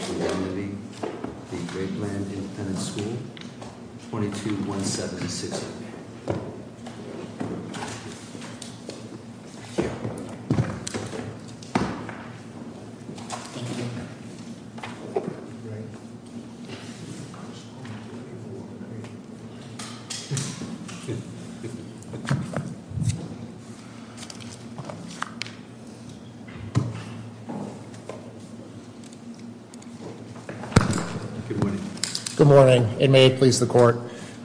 v. Graveland Independent School, 22176. Good morning. Good morning, and may it please the court.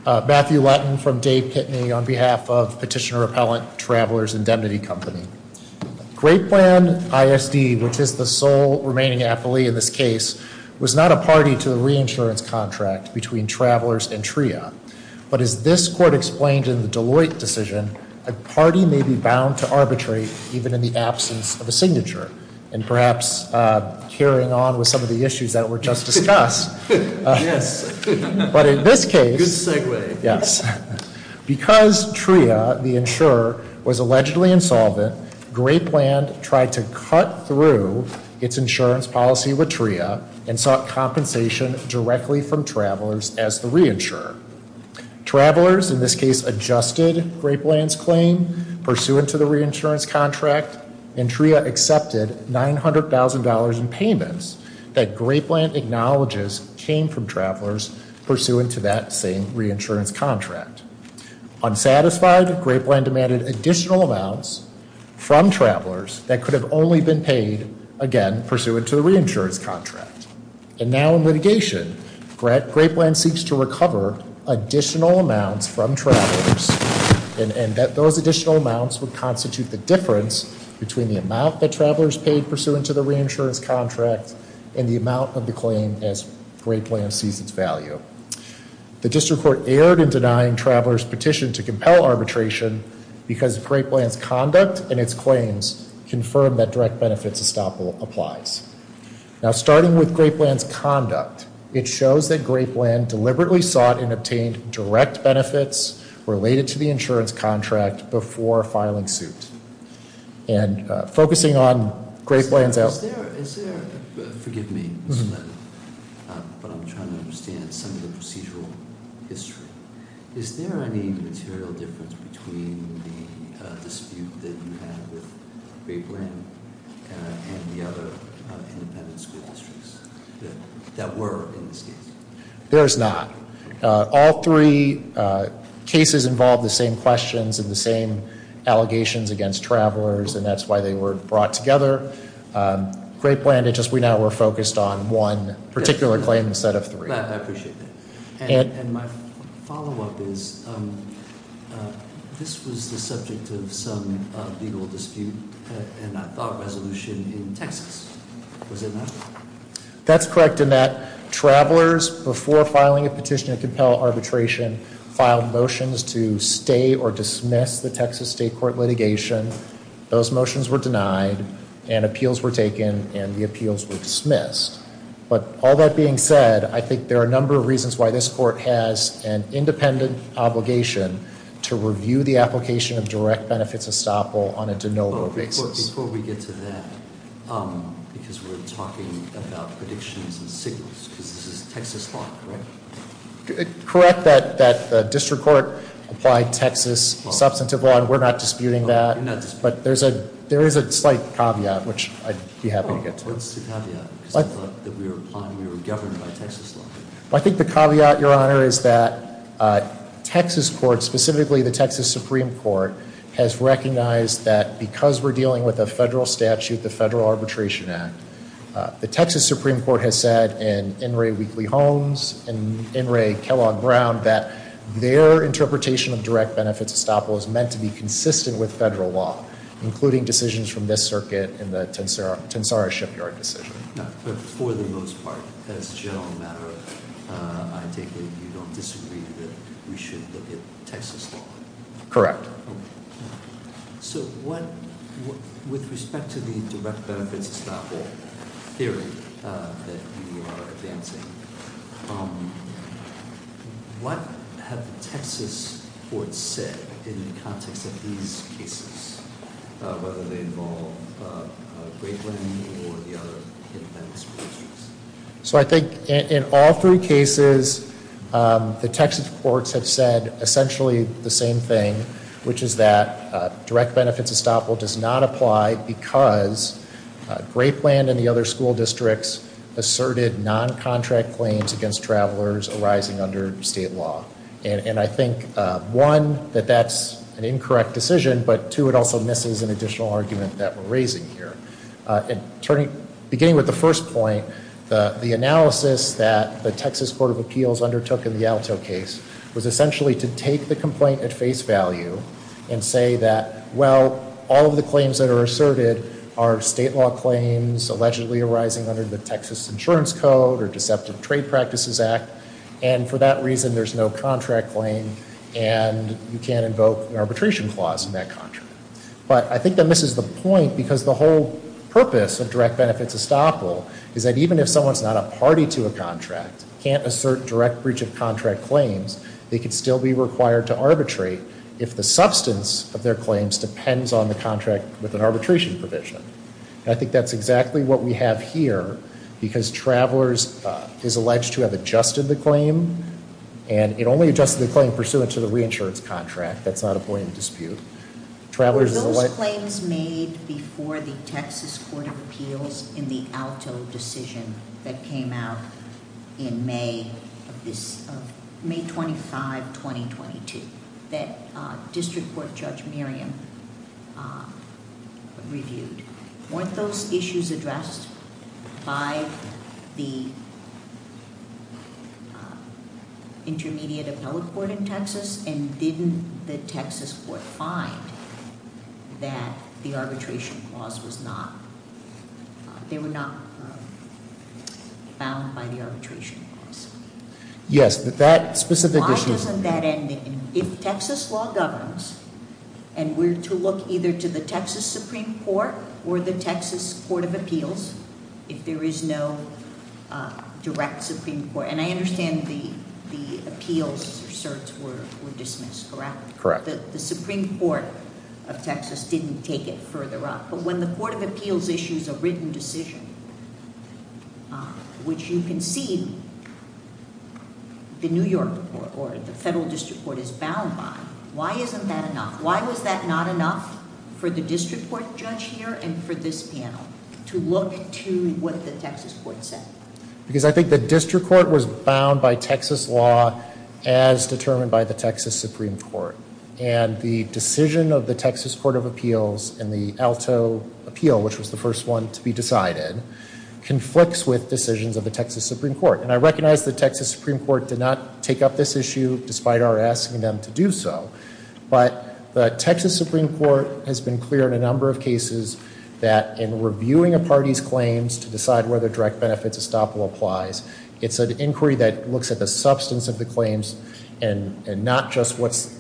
Matthew Letton from Dave Pitney on behalf of Petitioner Appellant Travelers Indemnity Company. Graveland ISD, which is the sole remaining affilee in this case, was not a party to the reinsurance contract between Travelers and TRIA. But as this court explained in the Deloitte decision, a party may be bound to arbitrate even in the absence of a signature. And perhaps carrying on with some of the issues that were just discussed. Yes. But in this case... Good segue. Yes. Because TRIA, the insurer, was allegedly insolvent, Graveland tried to cut through its insurance policy with TRIA and sought compensation directly from Travelers as the reinsurer. Travelers in this case adjusted Graveland's claim pursuant to the reinsurance contract. And TRIA accepted $900,000 in payments that Graveland acknowledges came from Travelers pursuant to that same reinsurance contract. Unsatisfied, Graveland demanded additional amounts from Travelers that could have only been paid, again, pursuant to the reinsurance contract. And now in litigation, Graveland seeks to recover additional amounts from Travelers. And those additional amounts would constitute the difference between the amount that Travelers paid pursuant to the reinsurance contract and the amount of the claim as Graveland sees its value. The district court erred in denying Travelers' petition to compel arbitration because of Graveland's conduct and its claims confirmed that direct benefits estoppel applies. Now starting with Graveland's conduct, it shows that Graveland deliberately sought and obtained direct benefits related to the insurance contract before filing suit. And focusing on Graveland's- Forgive me, but I'm trying to understand some of the procedural history. Is there any material difference between the dispute that you had with Graveland and the other independent school districts that were in this case? There's not. All three cases involved the same questions and the same allegations against Travelers, and that's why they were brought together. Grapeland, it's just we now were focused on one particular claim instead of three. I appreciate that. And my follow-up is, this was the subject of some legal dispute and I thought resolution in Texas. Was it not? That's correct in that Travelers, before filing a petition to compel arbitration, filed motions to stay or dismiss the Texas state court litigation. Those motions were denied and appeals were taken and the appeals were dismissed. But all that being said, I think there are a number of reasons why this court has an independent obligation to review the application of direct benefits estoppel on a de novo basis. Before we get to that, because we're talking about predictions and signals, because this is Texas law, correct? Correct that the district court applied Texas substantive law and we're not disputing that. But there is a slight caveat, which I'd be happy to get to. What's the caveat? Because I thought that we were applying, we were governed by Texas law. I think the caveat, Your Honor, is that Texas courts, specifically the Texas Supreme Court, has recognized that because we're dealing with a federal statute, the Federal Arbitration Act, the Texas Supreme Court has said in In re Weekly Homes and in re Kellogg Brown that their interpretation of direct benefits estoppel is meant to be consistent with federal law, including decisions from this circuit and the Tensara Shipyard decision. For the most part, as a general matter, I take it you don't disagree that we should look at Texas law? Correct. So with respect to the direct benefits estoppel theory that you are advancing, what have the Texas courts said in the context of these cases, whether they involve Grapeland or the other independent school districts? So I think in all three cases, the Texas courts have said essentially the same thing, which is that direct benefits estoppel does not apply because Grapeland and the other school districts asserted noncontract claims against travelers arising under state law. And I think, one, that that's an incorrect decision, but, two, it also misses an additional argument that we're raising here. Beginning with the first point, the analysis that the Texas Court of Appeals undertook in the Alto case was essentially to take the complaint at face value and say that, well, all of the claims that are asserted are state law claims allegedly arising under the Texas Insurance Code or Deceptive Trade Practices Act, and for that reason, there's no contract claim, and you can't invoke an arbitration clause in that contract. But I think that misses the point because the whole purpose of direct benefits estoppel is that even if someone's not a party to a contract, can't assert direct breach of contract claims, they could still be required to arbitrate if the substance of their claims depends on the contract with an arbitration provision. And I think that's exactly what we have here because travelers is alleged to have adjusted the claim, and it only adjusted the claim pursuant to the reinsurance contract. Those claims made before the Texas Court of Appeals in the Alto decision that came out in May 25, 2022, that District Court Judge Miriam reviewed, weren't those issues addressed by the intermediate appellate court in Texas and didn't the Texas court find that the arbitration clause was not, they were not bound by the arbitration clause? Yes, but that specific issue- I was on that ending. If Texas law governs, and we're to look either to the Texas Supreme Court or the Texas Court of Appeals, if there is no direct Supreme Court, and I understand the appeals asserts were dismissed, correct? Correct. The Supreme Court of Texas didn't take it further up, but when the Court of Appeals issues a written decision, which you can see the New York Court or the Federal District Court is bound by, why isn't that enough? Why was that not enough for the District Court Judge here and for this panel to look to what the Texas Court said? Because I think the District Court was bound by Texas law as determined by the Texas Supreme Court, and the decision of the Texas Court of Appeals in the Alto appeal, which was the first one to be decided, conflicts with decisions of the Texas Supreme Court. And I recognize the Texas Supreme Court did not take up this issue despite our asking them to do so, but the Texas Supreme Court has been clear in a number of cases that in reviewing a party's claims to decide whether direct benefits estoppel applies, it's an inquiry that looks at the substance of the claims and not just what's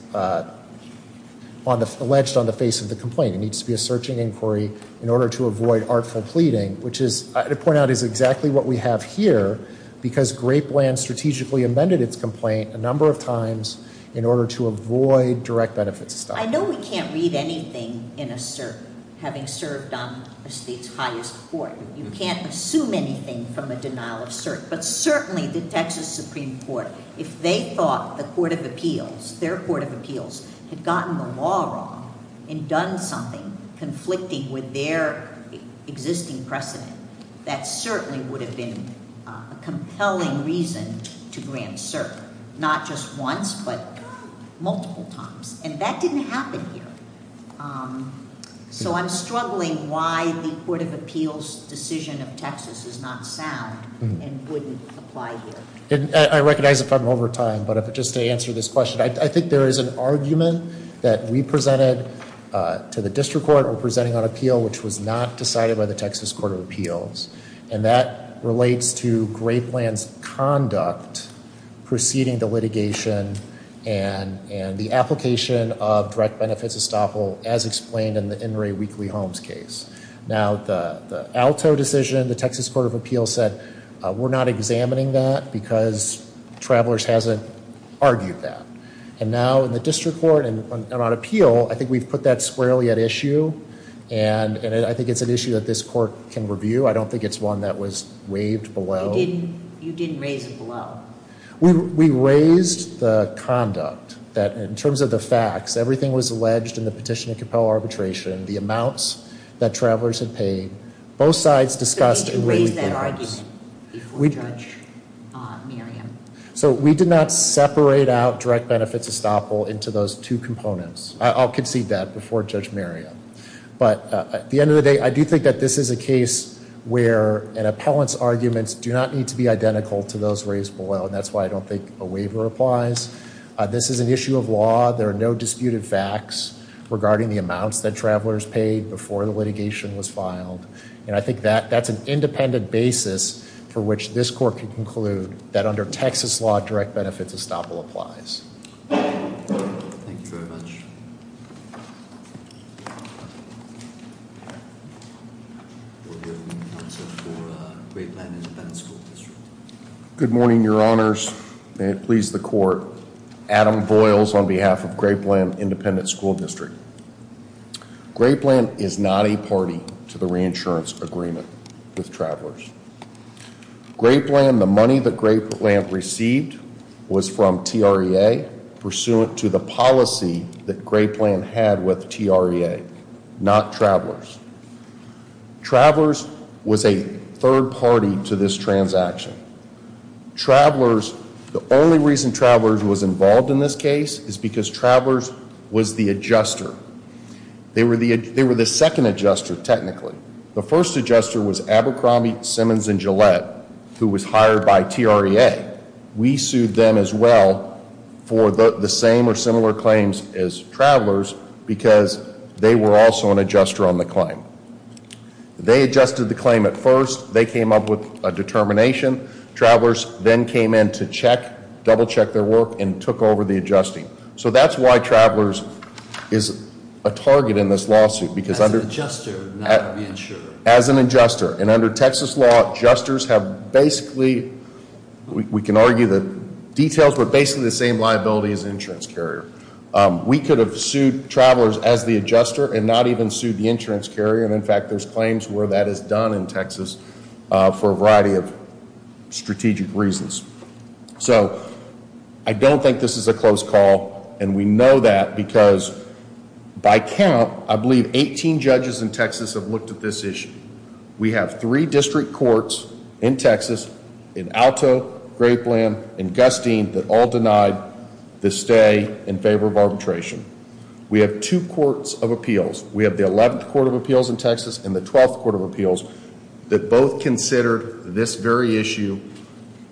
alleged on the face of the complaint. It needs to be a searching inquiry in order to avoid artful pleading, which is, to point out, is exactly what we have here, because Grapeland strategically amended its complaint a number of times in order to avoid direct benefits estoppel. I know we can't read anything in a cert having served on a state's highest court. You can't assume anything from a denial of cert. But certainly the Texas Supreme Court, if they thought the Court of Appeals, their Court of Appeals, had gotten the law wrong and done something conflicting with their existing precedent, that certainly would have been a compelling reason to grant cert. Not just once, but multiple times. And that didn't happen here. So I'm struggling why the Court of Appeals' decision of Texas is not sound and wouldn't apply here. I recognize the problem over time, but just to answer this question, I think there is an argument that we presented to the district court we're presenting on appeal, which was not decided by the Texas Court of Appeals. And that relates to Grapeland's conduct preceding the litigation and the application of direct benefits estoppel as explained in the In re Weekly Homes case. Now, the Alto decision, the Texas Court of Appeals said, we're not examining that because Travelers hasn't argued that. And now in the district court and on appeal, I think we've put that squarely at issue. And I think it's an issue that this court can review. I don't think it's one that was waived below. You didn't raise it below. We raised the conduct that, in terms of the facts, everything was alleged in the petition to compel arbitration, the amounts that Travelers had paid. Both sides discussed in re weekly homes. So we did not separate out direct benefits estoppel into those two components. I'll concede that before Judge Miriam. But at the end of the day, I do think that this is a case where an appellant's arguments do not need to be identical to those raised below. And that's why I don't think a waiver applies. This is an issue of law. There are no disputed facts regarding the amounts that Travelers paid before the litigation was filed. And I think that that's an independent basis for which this court can conclude that under Texas law, direct benefits estoppel applies. Thank you very much. Good morning, Your Honors. Please, the court. Adam Boyles on behalf of Grape Land Independent School District. Grape Land is not a party to the reinsurance agreement with Travelers. Grape Land, the money that Grape Land received was from TREA, pursuant to the policy that Grape Land had with TREA, not Travelers. Travelers was a third party to this transaction. Travelers, the only reason Travelers was involved in this case is because Travelers was the adjuster. They were the second adjuster, technically. The first adjuster was Abercrombie, Simmons, and Gillette, who was hired by TREA. We sued them as well for the same or similar claims as Travelers because they were also an adjuster on the claim. They adjusted the claim at first. They came up with a determination. Travelers then came in to check, double check their work, and took over the adjusting. So that's why Travelers is a target in this lawsuit. As an adjuster, not the insurer. As an adjuster. And under Texas law, adjusters have basically, we can argue the details, but basically the same liability as an insurance carrier. We could have sued Travelers as the adjuster and not even sued the insurance carrier. And in fact, there's claims where that is done in Texas for a variety of strategic reasons. So I don't think this is a close call. And we know that because by count, I believe 18 judges in Texas have looked at this issue. We have three district courts in Texas, in Alto, Grapeland, and Gustine, that all denied the stay in favor of arbitration. We have two courts of appeals. We have the 11th Court of Appeals in Texas and the 12th Court of Appeals that both considered this very issue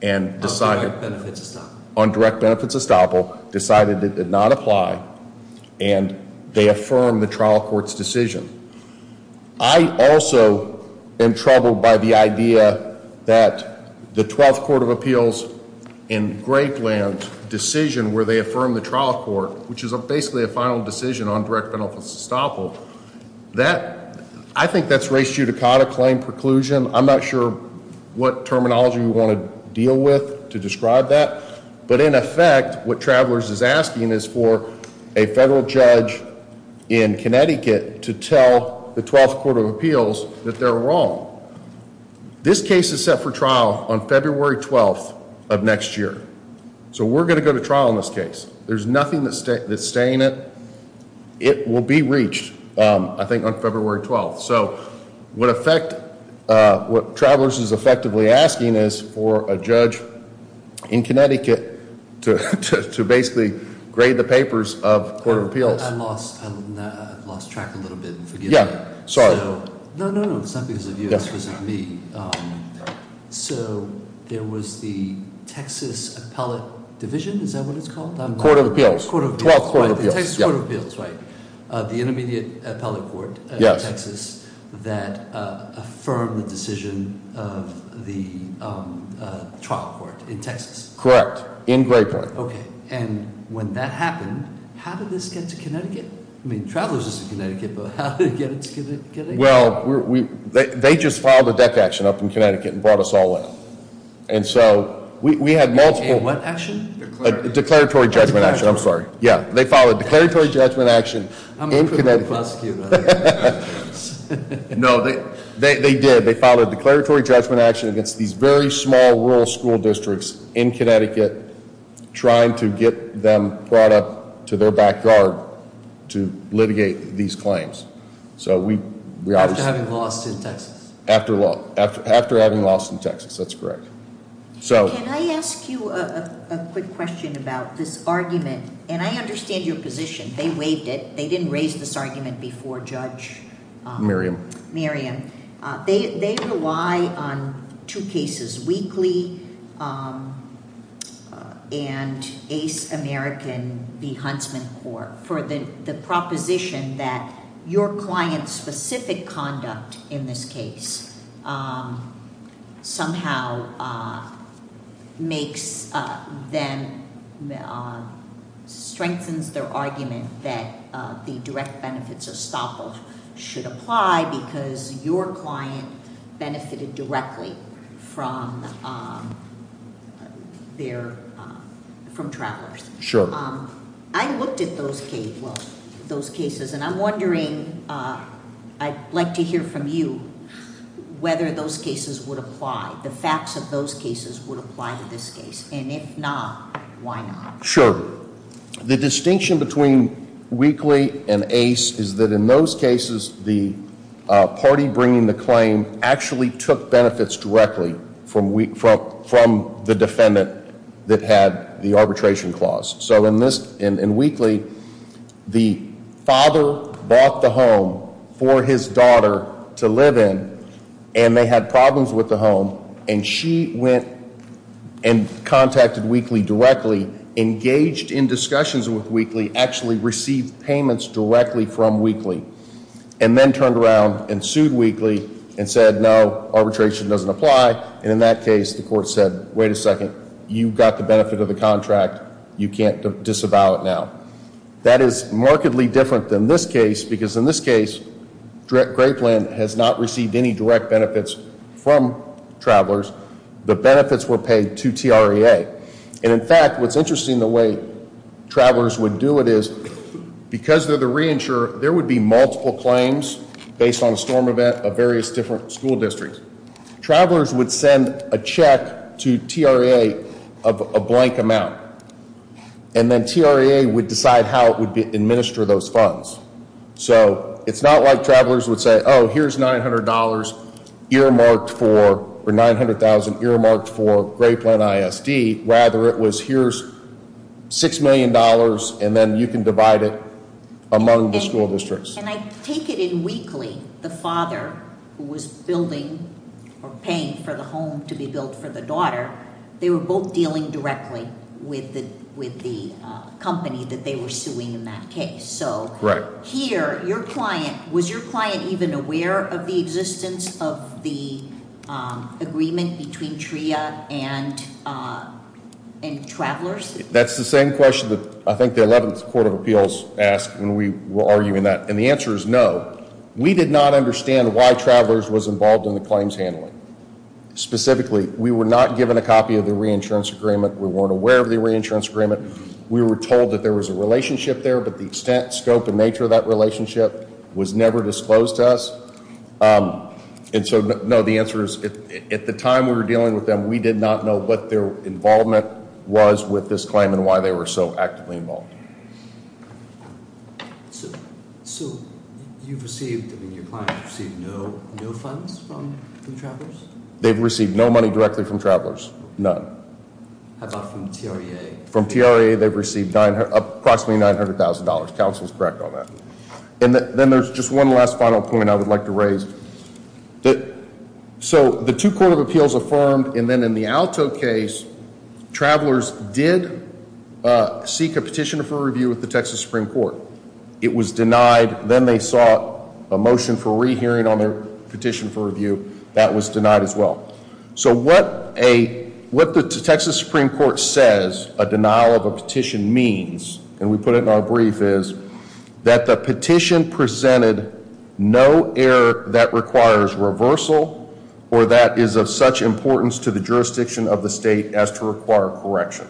and decided- On direct benefits estoppel. On direct benefits estoppel, decided it did not apply, and they affirmed the trial court's decision. I also am troubled by the idea that the 12th Court of Appeals in Grapeland's decision where they affirmed the trial court, which is basically a final decision on direct benefits estoppel, I think that's race judicata claim preclusion. I'm not sure what terminology you want to deal with to describe that. But in effect, what Travelers is asking is for a federal judge in Connecticut to tell the 12th Court of Appeals that they're wrong. This case is set for trial on February 12th of next year. So we're going to go to trial in this case. There's nothing that's staying it. It will be reached, I think, on February 12th. So what Travelers is effectively asking is for a judge in Connecticut to basically grade the papers of Court of Appeals. I've lost track a little bit. Yeah, sorry. No, no, no, it's not because of you. It's because of me. So there was the Texas Appellate Division. Is that what it's called? Court of Appeals. 12th Court of Appeals. The Texas Court of Appeals, right, the intermediate appellate court in Texas that affirmed the decision of the trial court in Texas. Correct, in Grapeland. Okay. And when that happened, how did this get to Connecticut? I mean, Travelers is in Connecticut, but how did it get to Connecticut? Well, they just filed a deck action up in Connecticut and brought us all in. And so we had multiple- Declaratory judgment action, I'm sorry. Yeah, they filed a declaratory judgment action in Connecticut. I'm a criminal prosecutor. No, they did. They filed a declaratory judgment action against these very small rural school districts in Connecticut, trying to get them brought up to their back yard to litigate these claims. So we obviously- After having lost in Texas. After having lost in Texas, that's correct. Can I ask you a quick question about this argument? And I understand your position. They waived it. They didn't raise this argument before Judge- Miriam. Miriam. They rely on two cases, Weakley and Ace American v. Huntsman Court, for the proposition that your client's specific conduct in this case somehow makes them- strengthens their argument that the direct benefits of stop-off should apply because your client benefited directly from travelers. Sure. I looked at those cases and I'm wondering, I'd like to hear from you, whether those cases would apply, the facts of those cases would apply to this case. And if not, why not? Sure. The distinction between Weakley and Ace is that in those cases, the party bringing the claim actually took benefits directly from the defendant that had the arbitration clause. So in Weakley, the father bought the home for his daughter to live in, and they had problems with the home, and she went and contacted Weakley directly, engaged in discussions with Weakley, actually received payments directly from Weakley, and then turned around and sued Weakley and said, no, arbitration doesn't apply. And in that case, the court said, wait a second, you got the benefit of the contract. You can't disavow it now. That is markedly different than this case because in this case, Graveland has not received any direct benefits from Travelers. The benefits were paid to TRA. And in fact, what's interesting, the way Travelers would do it is because they're the reinsurer, there would be multiple claims based on a storm event of various different school districts. Travelers would send a check to TRA of a blank amount, and then TRA would decide how it would administer those funds. So it's not like Travelers would say, oh, here's $900 earmarked for, or $900,000 earmarked for Graveland ISD. Rather, it was here's $6 million, and then you can divide it among the school districts. And I take it in Weakley, the father, who was building or paying for the home to be built for the daughter, they were both dealing directly with the company that they were suing in that case. So here, your client, was your client even aware of the existence of the agreement between TRA and Travelers? That's the same question that I think the 11th Court of Appeals asked when we were arguing that. And the answer is no. We did not understand why Travelers was involved in the claims handling. Specifically, we were not given a copy of the reinsurance agreement. We weren't aware of the reinsurance agreement. We were told that there was a relationship there, but the extent, scope, and nature of that relationship was never disclosed to us. And so, no, the answer is, at the time we were dealing with them, we did not know what their involvement was with this claim and why they were so actively involved. So you've received, I mean, your client has received no funds from Travelers? They've received no money directly from Travelers. None. How about from TRA? From TRA, they've received approximately $900,000. Counsel is correct on that. And then there's just one last final point I would like to raise. So the two Court of Appeals affirmed, and then in the Alto case, Travelers did seek a petition for review with the Texas Supreme Court. It was denied. Then they sought a motion for rehearing on their petition for review. That was denied as well. So what the Texas Supreme Court says a denial of a petition means, and we put it in our brief, is that the petition presented no error that requires reversal or that is of such importance to the jurisdiction of the state as to require correction.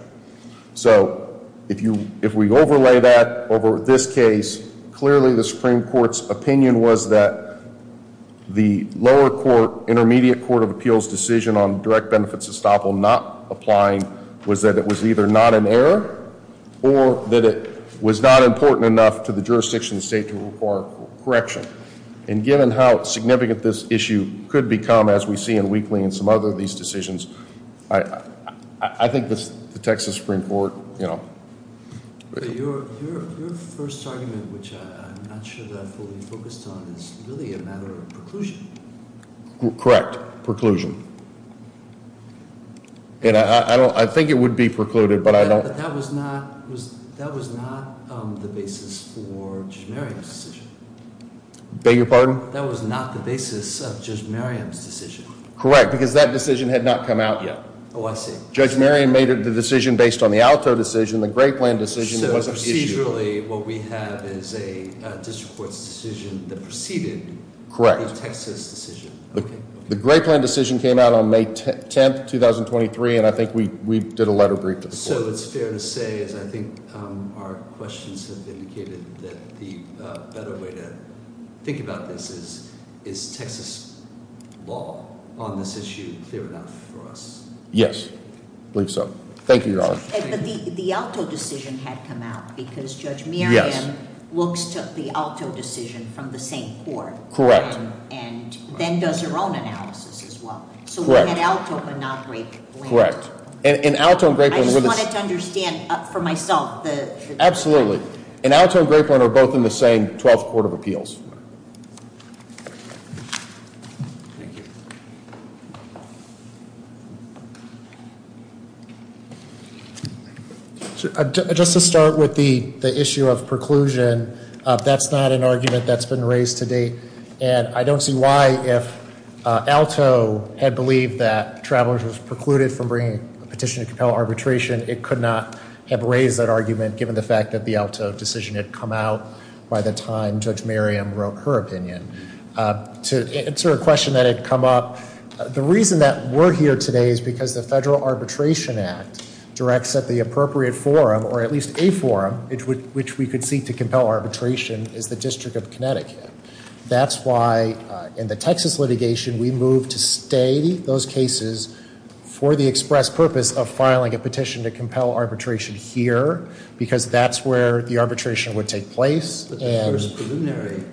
So if we overlay that over this case, clearly the Supreme Court's opinion was that the lower court, intermediate Court of Appeals decision on direct benefits estoppel not applying was that it was either not an error or that it was not important enough to the jurisdiction of the state to require correction. And given how significant this issue could become, as we see in Wheatley and some other of these decisions, I think the Texas Supreme Court- But your first argument, which I'm not sure that I fully focused on, is really a matter of preclusion. Correct. Preclusion. And I think it would be precluded, but I don't- But that was not the basis for Judge Merriam's decision. Beg your pardon? That was not the basis of Judge Merriam's decision. Correct, because that decision had not come out yet. Oh, I see. Judge Merriam made the decision based on the Alto decision, the Gray Plan decision. So procedurally, what we have is a district court's decision that preceded the Texas decision. The Gray Plan decision came out on May 10, 2023, and I think we did a letter brief to the court. Also, it's fair to say, as I think our questions have indicated, that the better way to think about this is, is Texas law on this issue clear enough for us? Yes, I believe so. Thank you, Your Honor. But the Alto decision had come out because Judge Merriam looks to the Alto decision from the same court. Correct. And then does her own analysis as well. Correct. So we had Alto but not Gray Plan. Correct. I just wanted to understand for myself. Absolutely. And Alto and Gray Plan are both in the same 12th Court of Appeals. Just to start with the issue of preclusion, that's not an argument that's been raised to date. And I don't see why if Alto had believed that Travelers was precluded from bringing a petition to compel arbitration, it could not have raised that argument given the fact that the Alto decision had come out by the time Judge Merriam wrote her opinion. To answer a question that had come up, the reason that we're here today is because the Federal Arbitration Act directs that the appropriate forum, or at least a forum, which we could see to compel arbitration, is the District of Connecticut. That's why in the Texas litigation, we moved to stay those cases for the express purpose of filing a petition to compel arbitration here because that's where the arbitration would take place. The preliminary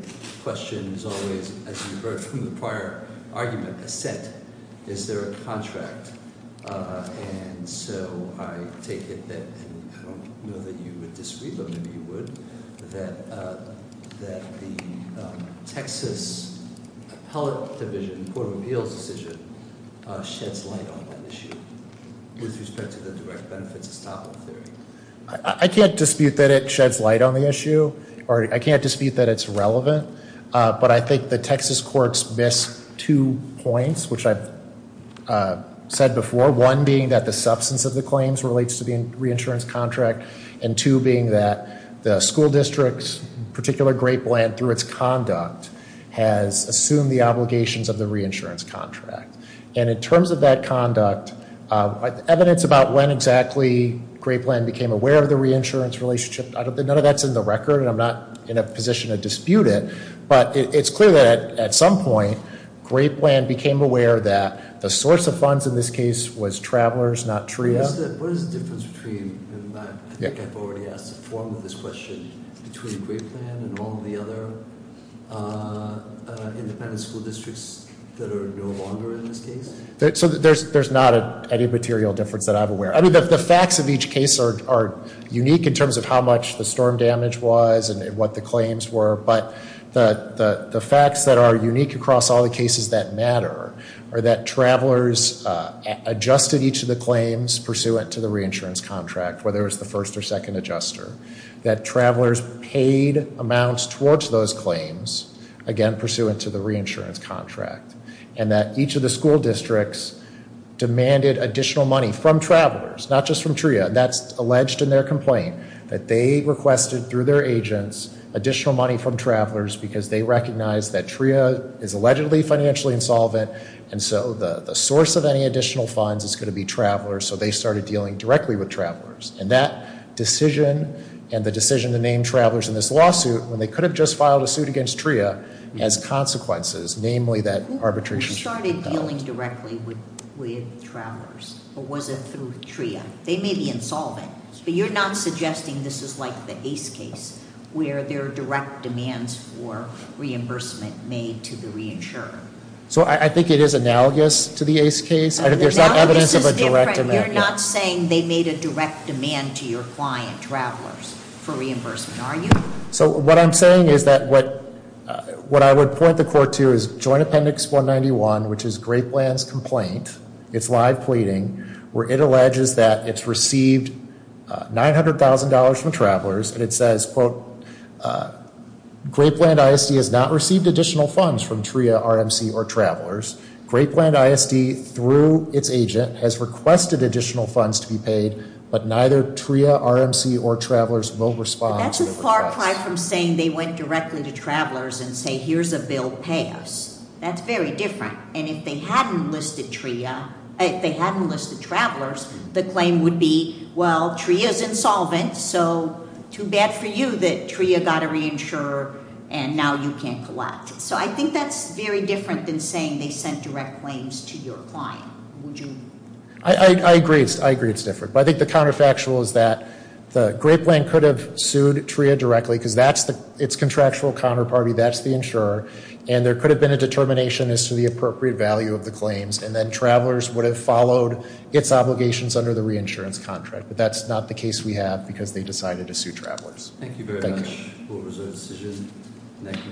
question is always, as you've heard from the prior argument, assent. Is there a contract? And so I take it that, and I don't know that you would disagree, but maybe you would, that the Texas Appellate Division Court of Appeals decision sheds light on that issue with respect to the direct benefits as top of the theory. I can't dispute that it sheds light on the issue, or I can't dispute that it's relevant, but I think the Texas courts miss two points, which I've said before. One being that the substance of the claims relates to the reinsurance contract, and two being that the school district's particular great plan through its conduct has assumed the obligations of the reinsurance contract. And in terms of that conduct, evidence about when exactly great plan became aware of the reinsurance relationship, none of that's in the record, and I'm not in a position to dispute it, but it's clear that at some point, great plan became aware that the source of funds in this case was travelers, not TRIA. What is the difference between, and I think I've already asked a form of this question, between great plan and all the other independent school districts that are no longer in this case? So there's not any material difference that I'm aware of. The facts of each case are unique in terms of how much the storm damage was and what the claims were, but the facts that are unique across all the cases that matter are that travelers adjusted each of the claims pursuant to the reinsurance contract, whether it was the first or second adjuster, that travelers paid amounts towards those claims, again, pursuant to the reinsurance contract, and that each of the school districts demanded additional money from travelers, not just from TRIA. That's alleged in their complaint, that they requested through their agents additional money from travelers because they recognized that TRIA is allegedly financially insolvent, and so the source of any additional funds is going to be travelers, so they started dealing directly with travelers. And that decision, and the decision to name travelers in this lawsuit, when they could have just filed a suit against TRIA, has consequences, namely that arbitration. We started dealing directly with travelers, but was it through TRIA? They may be insolvent, but you're not suggesting this is like the Ace case, where there are direct demands for reimbursement made to the reinsurer. So I think it is analogous to the Ace case. The analogous is different. There's not evidence of a direct demand. You're not saying they made a direct demand to your client, travelers, for reimbursement, are you? So what I'm saying is that what I would point the court to is Joint Appendix 191, which is Grapeland's complaint. It's live pleading, where it alleges that it's received $900,000 from travelers, and it says, quote, Grapeland ISD has not received additional funds from TRIA, RMC, or travelers. Grapeland ISD, through its agent, has requested additional funds to be paid, but neither TRIA, RMC, or travelers will respond. That's a far cry from saying they went directly to travelers and say, here's a bill, pay us. That's very different. And if they hadn't listed TRIA, if they hadn't listed travelers, the claim would be, well, TRIA's insolvent, so too bad for you that TRIA got a reinsurer, and now you can't collect. So I think that's very different than saying they sent direct claims to your client. Would you? I agree. I agree it's different. I think the counterfactual is that Grapeland could have sued TRIA directly because that's its contractual counterparty. That's the insurer. And there could have been a determination as to the appropriate value of the claims, and then travelers would have followed its obligations under the reinsurance contract. But that's not the case we have because they decided to sue travelers. Thank you very much. Thank you.